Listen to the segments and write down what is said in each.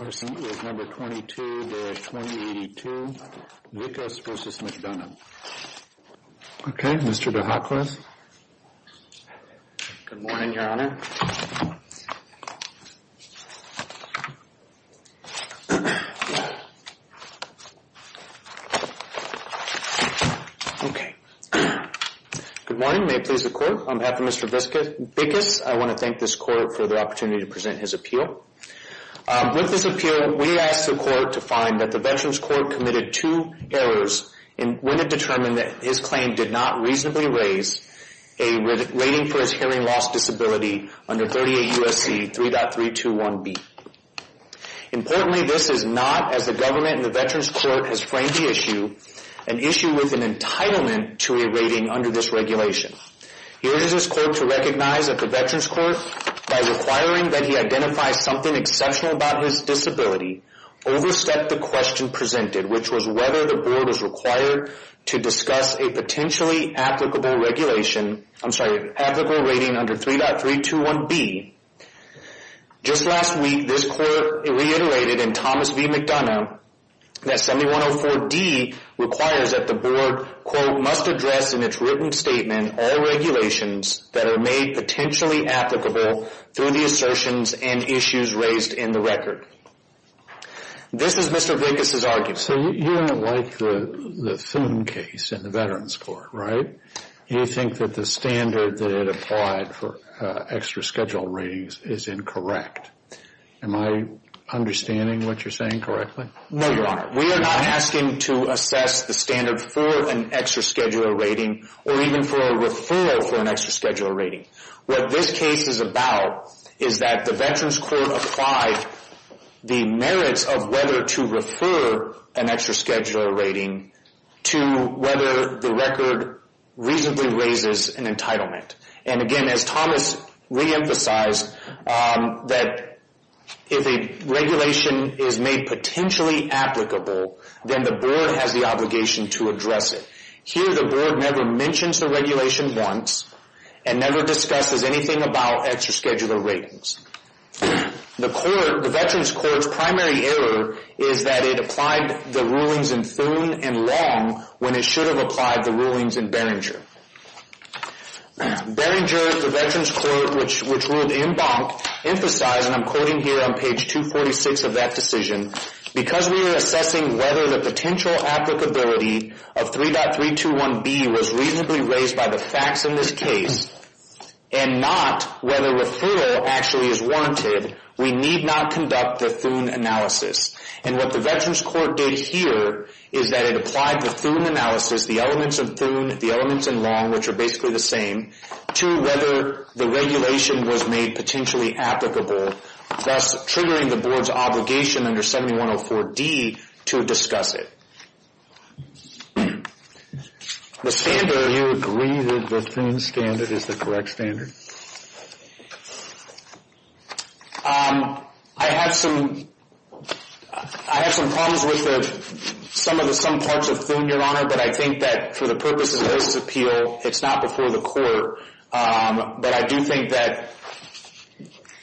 Okay, Mr. DeHacklis. Good morning, Your Honor. Okay. Good morning. May it please the Court. On behalf of Mr. Vickous, I want to thank this Court for the opportunity to present his appeal. With this appeal, we ask the Court to find that the Veterans Court committed two errors when it determined that his claim did not reasonably raise a rating for his hearing loss disability under 38 U.S.C. 3.321B. Importantly, this is not, as the government and the Veterans Court has framed the issue, an issue with an entitlement to a rating under this regulation. It urges this Court to recognize that the Veterans Court, by requiring that he identify something exceptional about his disability, overstepped the question presented, which was whether the Board was required to discuss a potentially applicable rating under 3.321B. Just last week, this Court reiterated in Thomas v. McDonough that 7104D requires that the Board, quote, must address in its written statement all regulations that are made potentially applicable through the assertions and issues raised in the record. This is Mr. Vickous' argument. So you don't like the Thune case in the Veterans Court, right? You think that the standard that it applied for extra schedule ratings is incorrect. Am I understanding what you're saying correctly? No, Your Honor. We are not asking to assess the standard for an extra schedule rating or even for a referral for an extra schedule rating. What this case is about is that the Veterans Court applied the merits of whether to refer an extra schedule rating to whether the record reasonably raises an entitlement. And again, as Thomas re-emphasized, that if a regulation is made potentially applicable, then the Board has the obligation to address it. Here, the Board never mentions the regulation once and never discusses anything about extra schedule ratings. The Veterans Court's primary error is that it applied the rulings in Thune and Long when it should have applied the rulings in Beringer. Beringer, the Veterans Court, which ruled in Bonk, emphasized, and I'm quoting here on page 246 of that decision, because we are assessing whether the potential applicability of 3.321B was reasonably raised by the facts in this case and not whether referral actually is warranted, we need not conduct the Thune analysis. And what the Veterans Court did here is that it applied the Thune analysis, the elements of Thune, the elements in Long, which are basically the same, to whether the regulation was made potentially applicable, thus triggering the Board's obligation under 7104D to discuss it. The standard... Do you agree that the Thune standard is the correct standard? I have some problems with some parts of Thune, Your Honor, but I think that for the purposes of this appeal, it's not before the court. But I do think that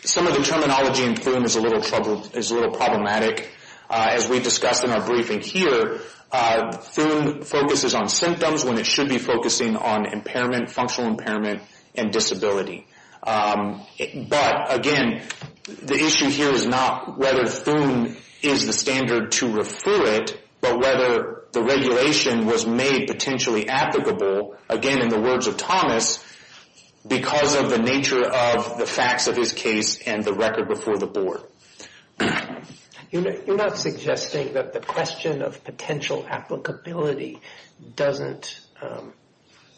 some of the terminology in Thune is a little problematic. As we discussed in our briefing here, Thune focuses on symptoms when it should be focusing on impairment, functional impairment, and disability. But again, the issue here is not whether Thune is the standard to refer it, but whether the regulation was made potentially applicable, again, in the words of Thomas, because of the nature of the facts of his case and the record before the Board. You're not suggesting that the question of potential applicability doesn't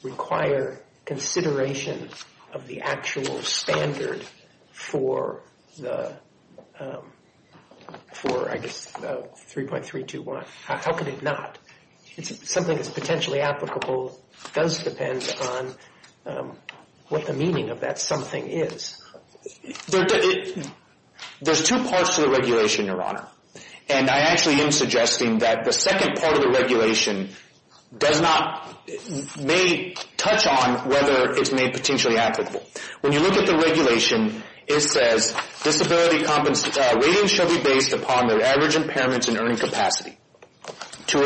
require consideration of the actual standard for the, I guess, 3.321. How could it not? Something that's potentially applicable does depend on what the meaning of that something is. There's two parts to the regulation, Your Honor. And I actually am suggesting that the second part of the regulation does not, may touch on whether it's made potentially applicable. When you look at the regulation, it says, disability ratings shall be based upon their status. To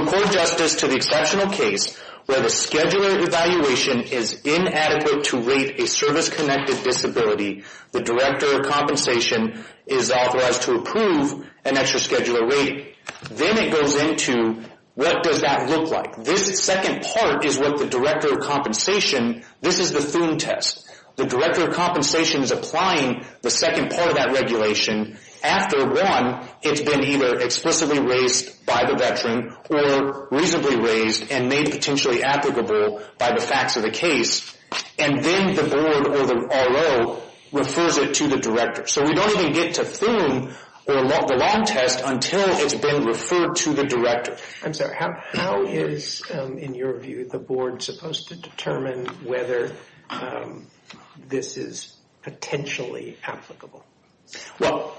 accord justice to the exceptional case where the scheduler evaluation is inadequate to rate a service-connected disability, the Director of Compensation is authorized to approve an extra scheduler rating. Then it goes into what does that look like? This second part is what the Director of Compensation, this is the Thune test. The Director of Compensation is applying the second part of that regulation. After one, it's been either explicitly raised by the veteran or reasonably raised and made potentially applicable by the facts of the case. And then the Board or the RO refers it to the Director. So we don't even get to Thune or the long test until it's been referred to the Director. I'm sorry. How is, in your view, the Board supposed to determine whether this is potentially applicable? Well,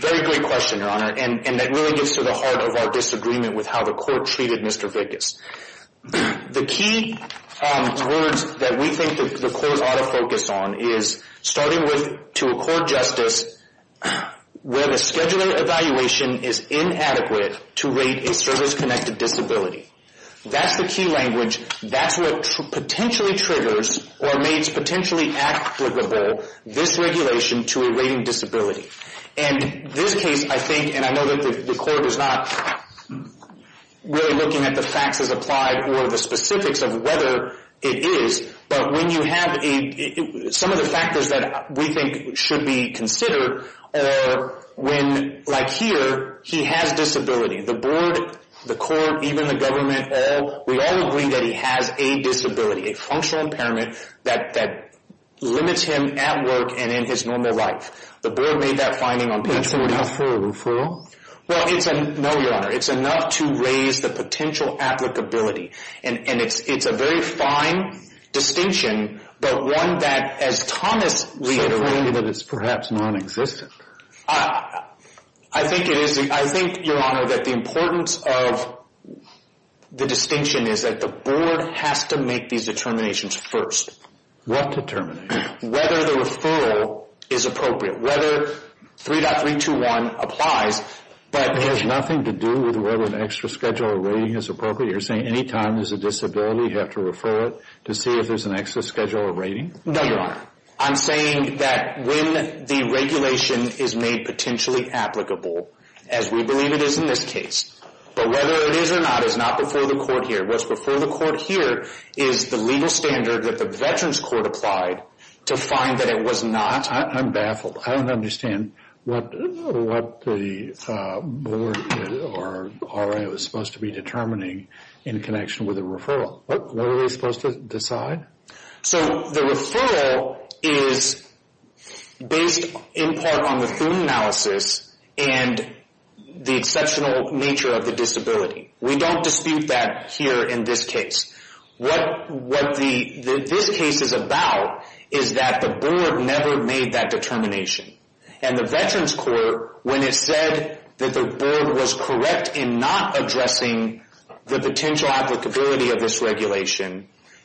very great question, Your Honor. And that really gets to the heart of our disagreement with how the Court treated Mr. Vickas. The key words that we think the Court ought to focus on is, starting with, to accord justice where the scheduler evaluation is inadequate to rate a service-connected disability. That's the key language. That's what potentially triggers or makes potentially applicable this regulation to a rating disability. And this case, I think, and I know that the Court is not really looking at the facts as applied or the specifics of whether it is, but when you have some of the factors that we think should be considered, or when, like here, he has disability. The Board, the Court, even the government, we all agree that he has a disability, a functional impairment that limits him at work and in his normal life. The Board made that finding on page 14. That's enough for a referral? Well, no, Your Honor. It's enough to raise the potential applicability. And it's a very fine distinction, but one that, as Thomas reiterated... So clearly that it's perhaps non-existent. I think it is. I think, Your Honor, that the importance of the distinction is that the Board has to make these determinations first. What determinations? Whether the referral is appropriate. Whether 3.321 applies, but... It has nothing to do with whether an extra scheduler rating is appropriate? You're saying any time there's a disability, you have to refer it to see if there's an extra scheduler rating? No, Your Honor. I'm saying that when the regulation is made potentially applicable, as we believe it is in this case, but whether it is or not is not before the Court here. What's before the Court here is the legal standard that the Veterans Court applied to find that it was not... I'm baffled. I don't understand what the Board or RA was supposed to be determining in connection with a referral. What were they supposed to decide? So the referral is based in part on the food analysis and the exceptional nature of the disability. We don't dispute that here in this case. What this case is about is that the Board never made that determination. And the Veterans Court, when it said that the Board was correct in not addressing the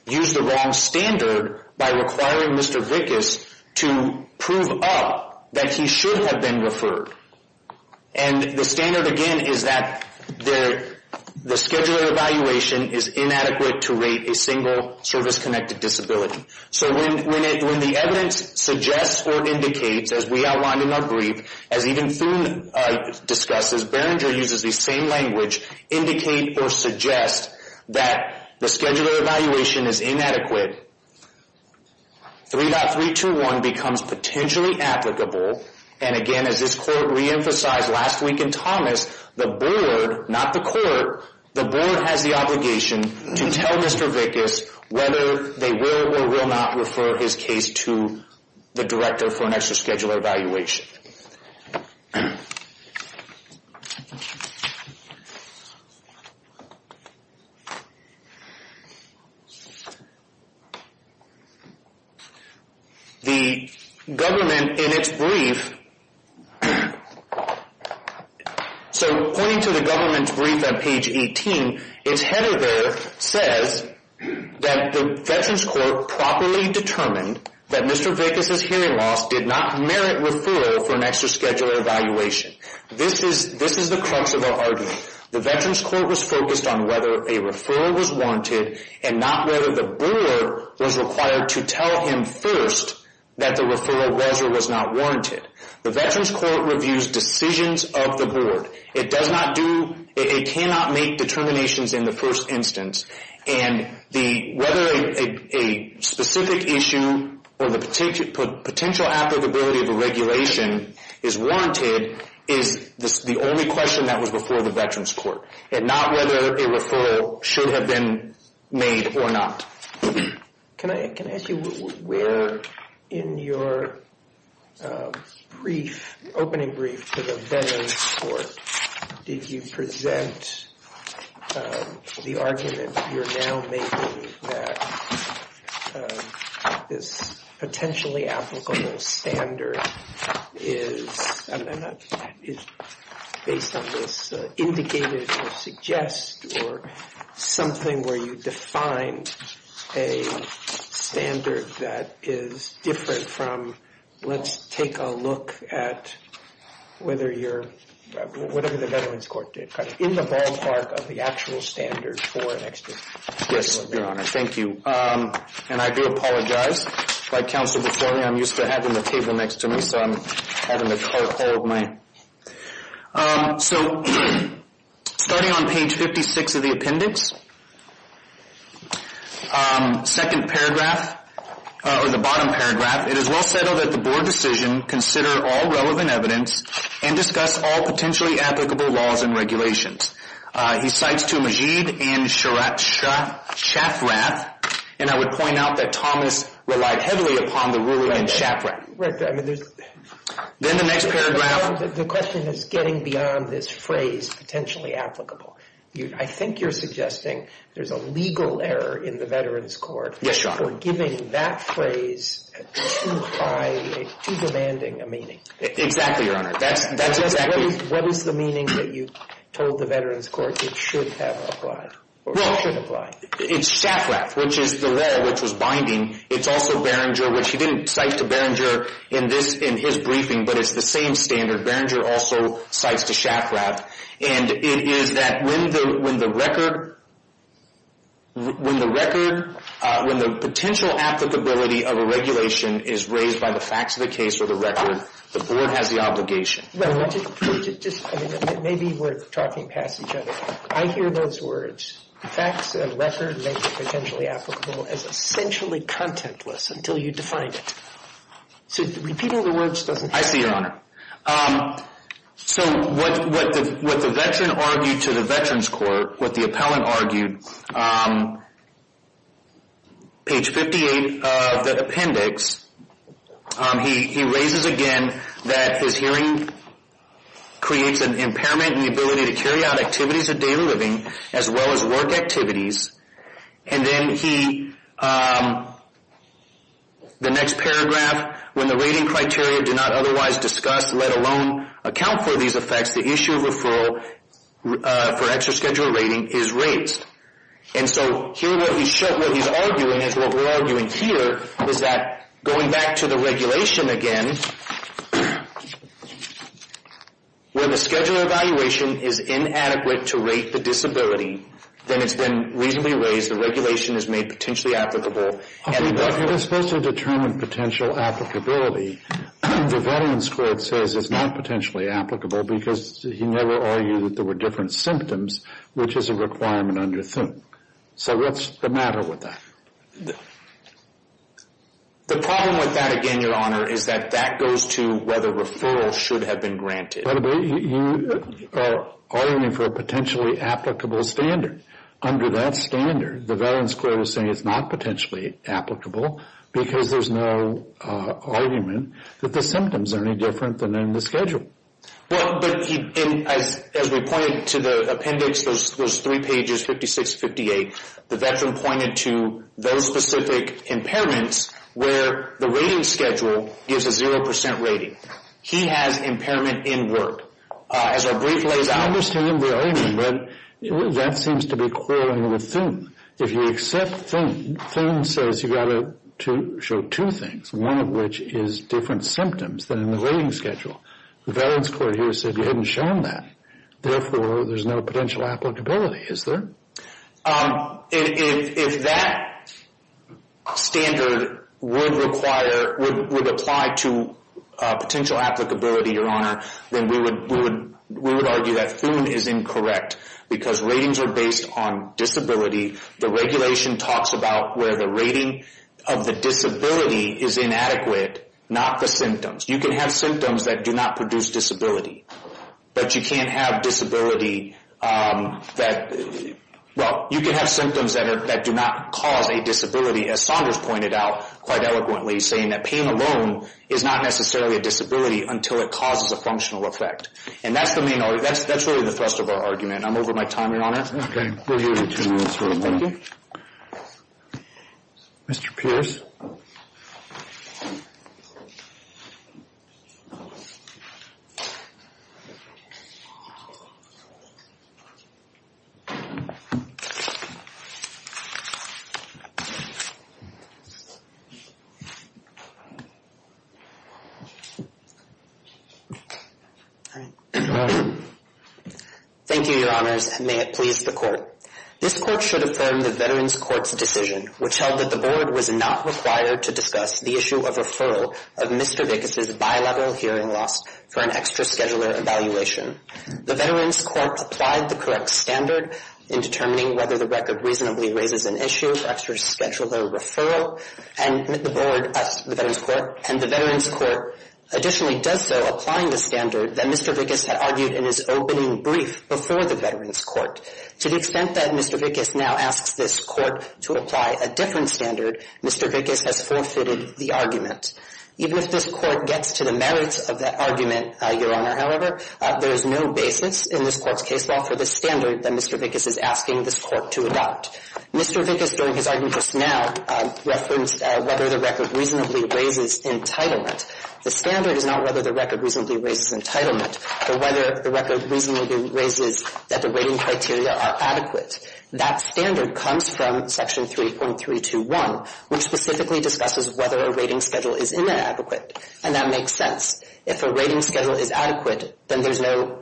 exceptional standard by requiring Mr. Vickus to prove up that he should have been referred. And the standard again is that the scheduler evaluation is inadequate to rate a single service-connected disability. So when the evidence suggests or indicates, as we outlined in our brief, as even Thune discusses, Berenger uses the same language, indicate or suggest that the scheduler evaluation is inadequate, 3.321 becomes potentially applicable. And again, as this Court re-emphasized last week in Thomas, the Board, not the Court, the Board has the obligation to tell Mr. Vickus whether they will or will not refer his case to the director for an extra scheduler evaluation. The government, in its brief, so pointing to the government's brief on page 18, its header there says that the Veterans Court properly determined that Mr. Vickus' hearing loss did not merit referral for an extra scheduler evaluation. This is the crux of our argument. The Veterans Court was focused on whether a referral was warranted or whether the Board was required to tell him first that the referral was or was not warranted. The Veterans Court reviews decisions of the Board. It does not do, it cannot make determinations in the first instance, and whether a specific issue or the potential applicability of a regulation is warranted is the only question that was before the Veterans Court, and not whether a referral should have been made or not. Can I, can I ask you where in your brief, opening brief to the Veterans Court, did you present the argument you're now making that this potentially applicable standard is, and that is based on this indicated or suggest or something where you defined a standard that is different from, let's take a look at whether you're, whatever the Veterans Court did, kind of in the ballpark of the actual standard for an extra scheduler. Yes, Your Honor. Thank you. And I do apologize. Like counsel before me, I'm used to having the table next to me, so I'm having to hold my, so starting on page 56 of the appendix, second paragraph, or the bottom paragraph, it is well settled that the Board decision consider all relevant evidence and discuss all potentially applicable laws and regulations. He cites to Majeed and Shafrath, and I would point out that Thomas relied heavily upon the ruling in Shafrath. Then the next paragraph. The question is getting beyond this phrase, potentially applicable. I think you're suggesting there's a legal error in the Veterans Court for giving that phrase too high, too demanding a meaning. Exactly, Your Honor. That's exactly. What is the meaning that you told the Veterans Court it should have applied, or should apply? It's Shafrath, which is the law which was binding. It's also Behringer, which he didn't cite to Behringer in this, in his briefing, but it's the same standard. Behringer also cites to Shafrath. And it is that when the record, when the record, when the potential applicability of a regulation is raised by the facts of the case or the record, the Board has the obligation. Well, let's just, maybe we're talking past each other. I hear those words. Facts and record make it potentially applicable as essentially contentless until you define it. So repeating the words doesn't help. I see, Your Honor. So what the veteran argued to the Veterans Court, what the appellant argued, page 58 of the appendix, he raises again that his hearing, his hearing of the hearing, creates an impairment in the ability to carry out activities of daily living, as well as work activities. And then he, the next paragraph, when the rating criteria do not otherwise discuss, let alone account for these effects, the issue of referral for extraschedular rating is raised. And so here what he's arguing is what we're arguing here is that going back to the regulation again, when the scheduler evaluation is inadequate to rate the disability, then it's been reasonably raised, the regulation is made potentially applicable. Okay, but you're supposed to determine potential applicability. The Veterans Court says it's not potentially applicable because he never argued that there were different symptoms, which is a requirement under Thun. So what's the matter with that? The problem with that again, Your Honor, is that that goes to whether referral should have been granted. But you are arguing for a potentially applicable standard. Under that standard, the Veterans Court is saying it's not potentially applicable because there's no argument that the symptoms are any different than in the schedule. Well, but as we pointed to the appendix, those three pages, 56, 58, the veteran pointed to those specific impairments where the rating schedule gives a 0% rating. He has impairment in work. As I briefly as I understand the argument, that seems to be quarreling with Thun. If you accept Thun, Thun says you've got to show two things, one of which is different symptoms than in the rating schedule. The Veterans Court here said you hadn't shown that. Therefore, there's no potential applicability, is there? If that standard would require, would apply to potential applicability, Your Honor, then we would argue that Thun is incorrect because ratings are based on disability. The regulation talks about where the rating of the disability is inadequate, not the symptoms. You can have symptoms that do not cause a disability, as Saunders pointed out quite eloquently, saying that pain alone is not necessarily a disability until it causes a functional effect. That's really the thrust of our argument. I'm over my time, Your Honor. Okay, we'll give you two minutes. Mr. Pierce. Thank you, Your Honors, and may it please the Court. This Court should affirm the Veterans Court's position on the issue of referral of Mr. Vickus' bilevel hearing loss for an extra-scheduler evaluation. The Veterans Court applied the correct standard in determining whether the record reasonably raises an issue for extra-scheduler referral, and the Veterans Court additionally does so, applying the standard that Mr. Vickus had argued in his opening brief before the Veterans Court. To the extent that Mr. Vickus now asks this Court to apply a different standard, Mr. Vickus has forfeited the argument. Even if this Court gets to the merits of that argument, Your Honor, however, there is no basis in this Court's case law for the standard that Mr. Vickus is asking this Court to adopt. Mr. Vickus during his argument just now referenced whether the record reasonably raises entitlement. The standard is not whether the record reasonably raises entitlement, but whether the record reasonably raises that the rating criteria are adequate. That standard comes from Section 3.321, which specifically discusses whether a rating schedule is inadequate, and that makes sense. If a rating schedule is adequate, then there's no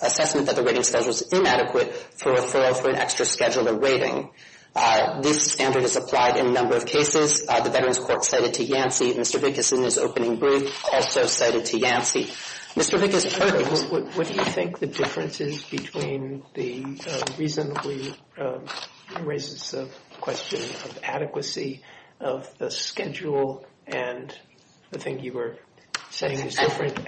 assessment that the rating schedule is inadequate for referral for an extra-scheduler rating. This standard is applied in a number of cases. The Veterans Court cited to Yancey. Mr. Vickus, in his opening brief, also cited to Yancey. Mr. Vickus. What do you think the difference is between the reasonably raises the question of adequacy of the schedule and the thing you were saying is different,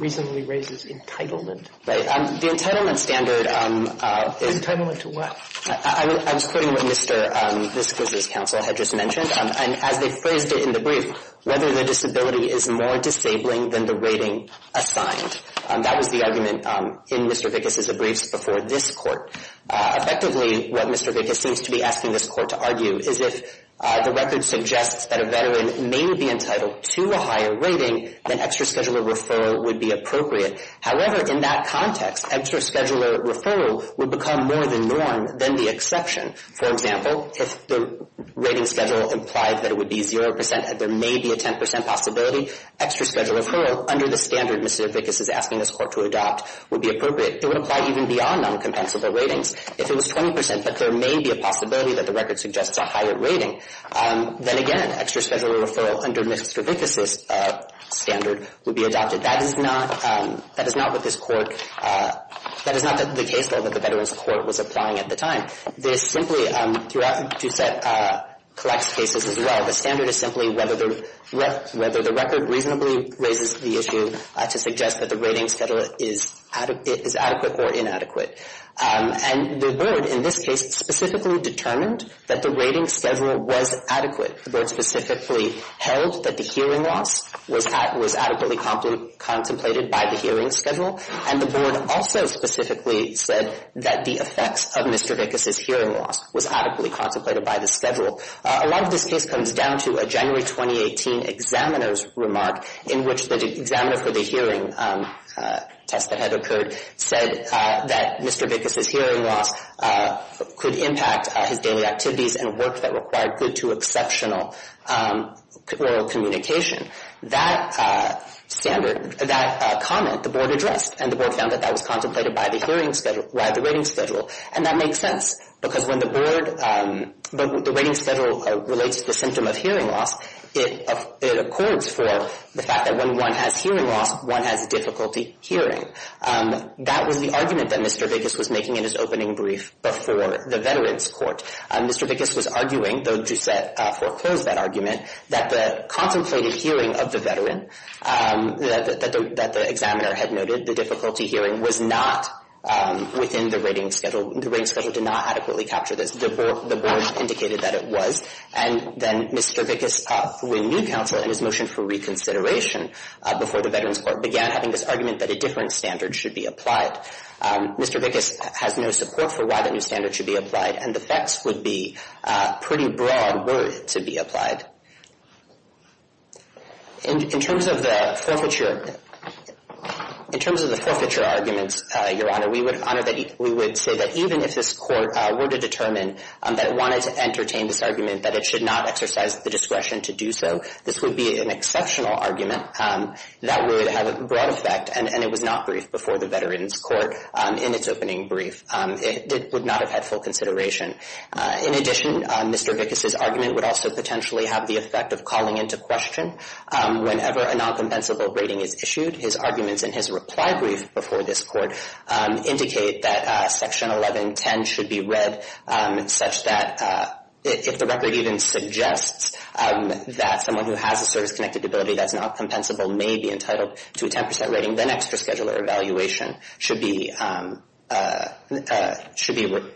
reasonably raises entitlement? Right. The entitlement standard is. Entitlement to what? I was quoting what Mr. Vickus' counsel had just mentioned. And as they phrased it in the brief, whether the disability is more disabling than the rating assigned. That was the argument in Mr. Vickus' briefs before this Court. Effectively, what Mr. Vickus seems to be asking this Court to argue is if the record suggests that a Veteran may be entitled to a higher rating, then extra-scheduler referral would be appropriate. However, in that context, extra-scheduler referral would become more the norm than the exception. For example, if the rating schedule implied that it would be 0 percent and there may be a 10 percent possibility, extra-scheduler referral under the standard Mr. Vickus is asking this Court to adopt would be appropriate. It would apply even beyond noncompensable ratings. If it was 20 percent, but there may be a possibility that the record suggests a higher rating, then again, extra-scheduler referral under Mr. Vickus' standard would be adopted. That is not, that is not what this Court, that is not the case, though, that the Veterans Court was applying at the time. This simply, throughout Doucette, collects cases as well. The standard is simply whether the record reasonably raises the issue to suggest that the ratings schedule is adequate or inadequate. And the Board, in this case, specifically determined that the ratings schedule was adequate. The Board specifically held that the hearing loss was adequately contemplated by the hearings schedule, and the Board also specifically said that the effects of Mr. Vickus' hearing loss was adequately contemplated by the schedule. A lot of this case comes down to a January 2018 examiner's remark in which the examiner for the hearing test that had his daily activities and work that required good to exceptional oral communication. That standard, that comment, the Board addressed, and the Board found that that was contemplated by the hearings schedule, by the ratings schedule. And that makes sense, because when the Board, the ratings schedule relates to the symptom of hearing loss, it accords for the fact that when one has hearing loss, one has difficulty hearing. That was the argument that Mr. Vickus was making in his opening brief before the Veterans Court. Mr. Vickus was arguing, though Ducette foreclosed that argument, that the contemplated hearing of the veteran that the examiner had noted, the difficulty hearing, was not within the ratings schedule. The ratings schedule did not adequately capture this. The Board indicated that it was. And then Mr. Vickus, through a new counsel and his motion for reconsideration before the Veterans Court, began having this argument that a different standard should be applied. Mr. Vickus has no support for why the new standard should be applied, and the facts would be pretty broad were it to be applied. In terms of the forfeiture arguments, Your Honor, we would say that even if this were to be applied, it would be an exceptional argument. That would have a broad effect, and it was not briefed before the Veterans Court in its opening brief. It would not have had full consideration. In addition, Mr. Vickus' argument would also potentially have the effect of calling into question. Whenever a non-compensable rating is issued, his arguments in his reply brief before this Court indicate that Section 1110 should be read such that if the record even suggests that someone who has a service-connected debility that's not compensable may be entitled to a 10% rating, then extra scheduler evaluation should be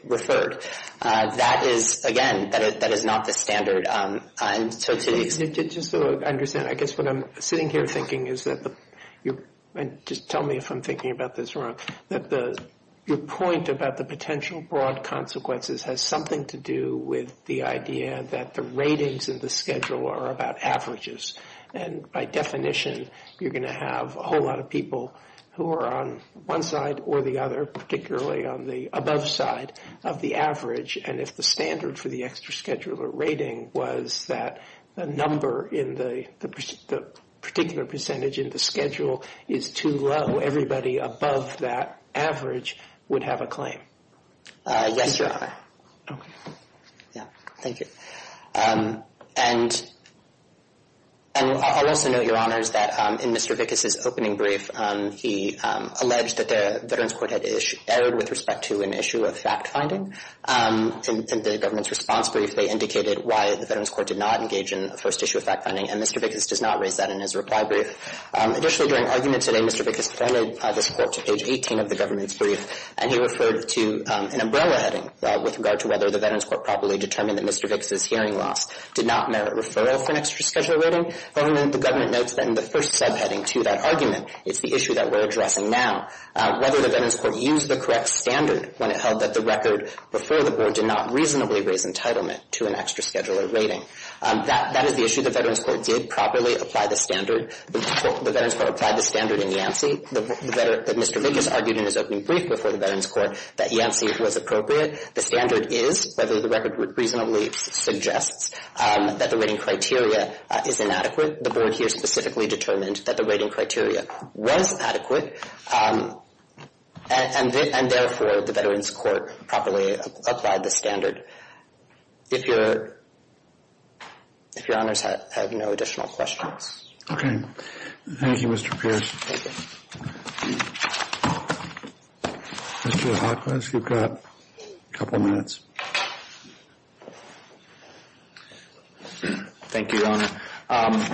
referred. That is, again, that is not the standard. And so to the extent... I guess what I'm sitting here thinking is that, just tell me if I'm thinking about this wrong, that your point about the potential broad consequences has something to do with the idea that the ratings in the schedule are about averages. And by definition, you're going to have a whole lot of people who are on one side or the other, particularly on the above side of the average. And if the standard for the extra scheduler rating was that the number in the particular percentage in the schedule is too low, everybody above that average would have a claim. Yes, Your Honor. Thank you. And I'd also note, Your Honors, that in Mr. Vickas' opening brief, he alleged that the Veterans Court had erred with respect to an issue of fact-finding. In the government's response brief, they referred to an umbrella heading with regard to whether the Veterans Court properly determined that Mr. Vickas' hearing loss did not merit referral for an extra scheduler rating. The government notes that in the first subheading to that argument, it's the issue that we're addressing now, whether the Veterans Court used the correct standard when it held that the record before the Board did not reasonably raise entitlement to an extra scheduler rating. That is the issue. The Veterans Court did properly apply the standard. The Veterans Court applied the standard in Yancey. Mr. Vickas argued in his opening brief before the Veterans Court that Yancey was appropriate. The standard is whether the record reasonably suggests that the rating criteria is inadequate. The Board here specifically determined that the rating criteria was adequate. And therefore, the Veterans Court properly applied the standard. If your if your honors have no additional questions. Okay. Thank you, Mr. Pierce. Mr. Hawkins, you've got a couple minutes. Thank you, Your Honor.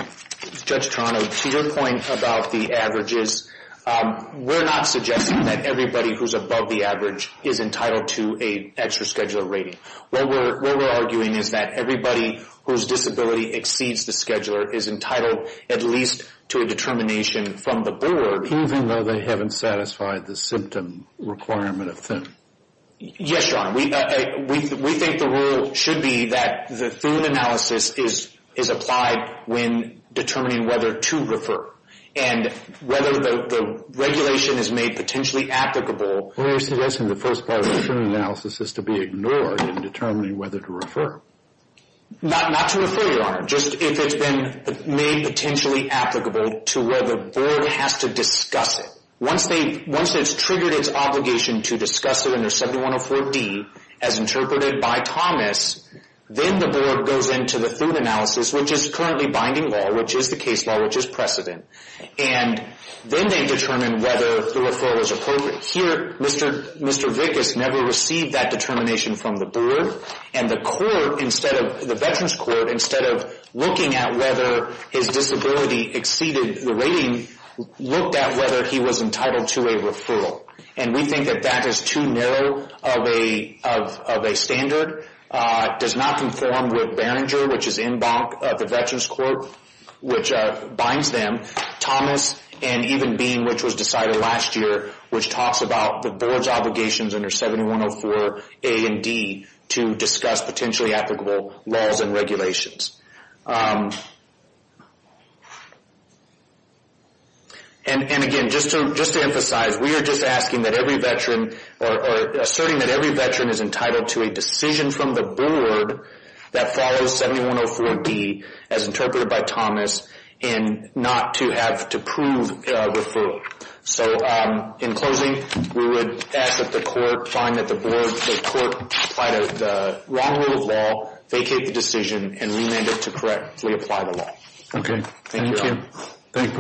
Judge Toronto, to your point about the averages, we're not suggesting that everybody who's above the average is entitled to an extra scheduler rating. What we're arguing is that everybody whose disability exceeds the scheduler is entitled at least to a determination from the Board. Even though they haven't satisfied the symptom requirement of Thun? Yes, Your Honor. We think the rule should be that the Thun analysis is applied when determining whether to refer. And whether the regulation is made potentially applicable. We're suggesting the first part of the Thun analysis is to be ignored in determining whether to refer. Not to refer, Your Honor. Just if it's been made potentially applicable to whether the Board has to discuss it. Once it's triggered its obligation to discuss it under 7104D as interpreted by Thomas, then the Board goes into the Thun analysis, which is currently binding law, which is the case law, which is precedent. And then they determine whether the referral is appropriate. Here, Mr. Vickas never received that determination from the Board. And the court, the Veterans Court, instead of looking at whether his disability exceeded the rating, looked at whether he was entitled to a referral. And we think that that is too narrow of a standard. It does not conform with Barringer, which is in bonk of the Veterans Court, which binds them. Thomas and even Bean, which was decided last year, which talks about the Board's obligations under 7104A and D to discuss potentially applicable laws and regulations. And again, just to emphasize, we are just asking that every Veteran or asserting that every Veteran is entitled to a decision from the Board that follows 7104D as interpreted by Thomas and not to have to prove referral. So in closing, we would ask that the court find that the Board, the court, apply the wrong rule of law, vacate the decision, and remand it to correctly apply the law. Thank you.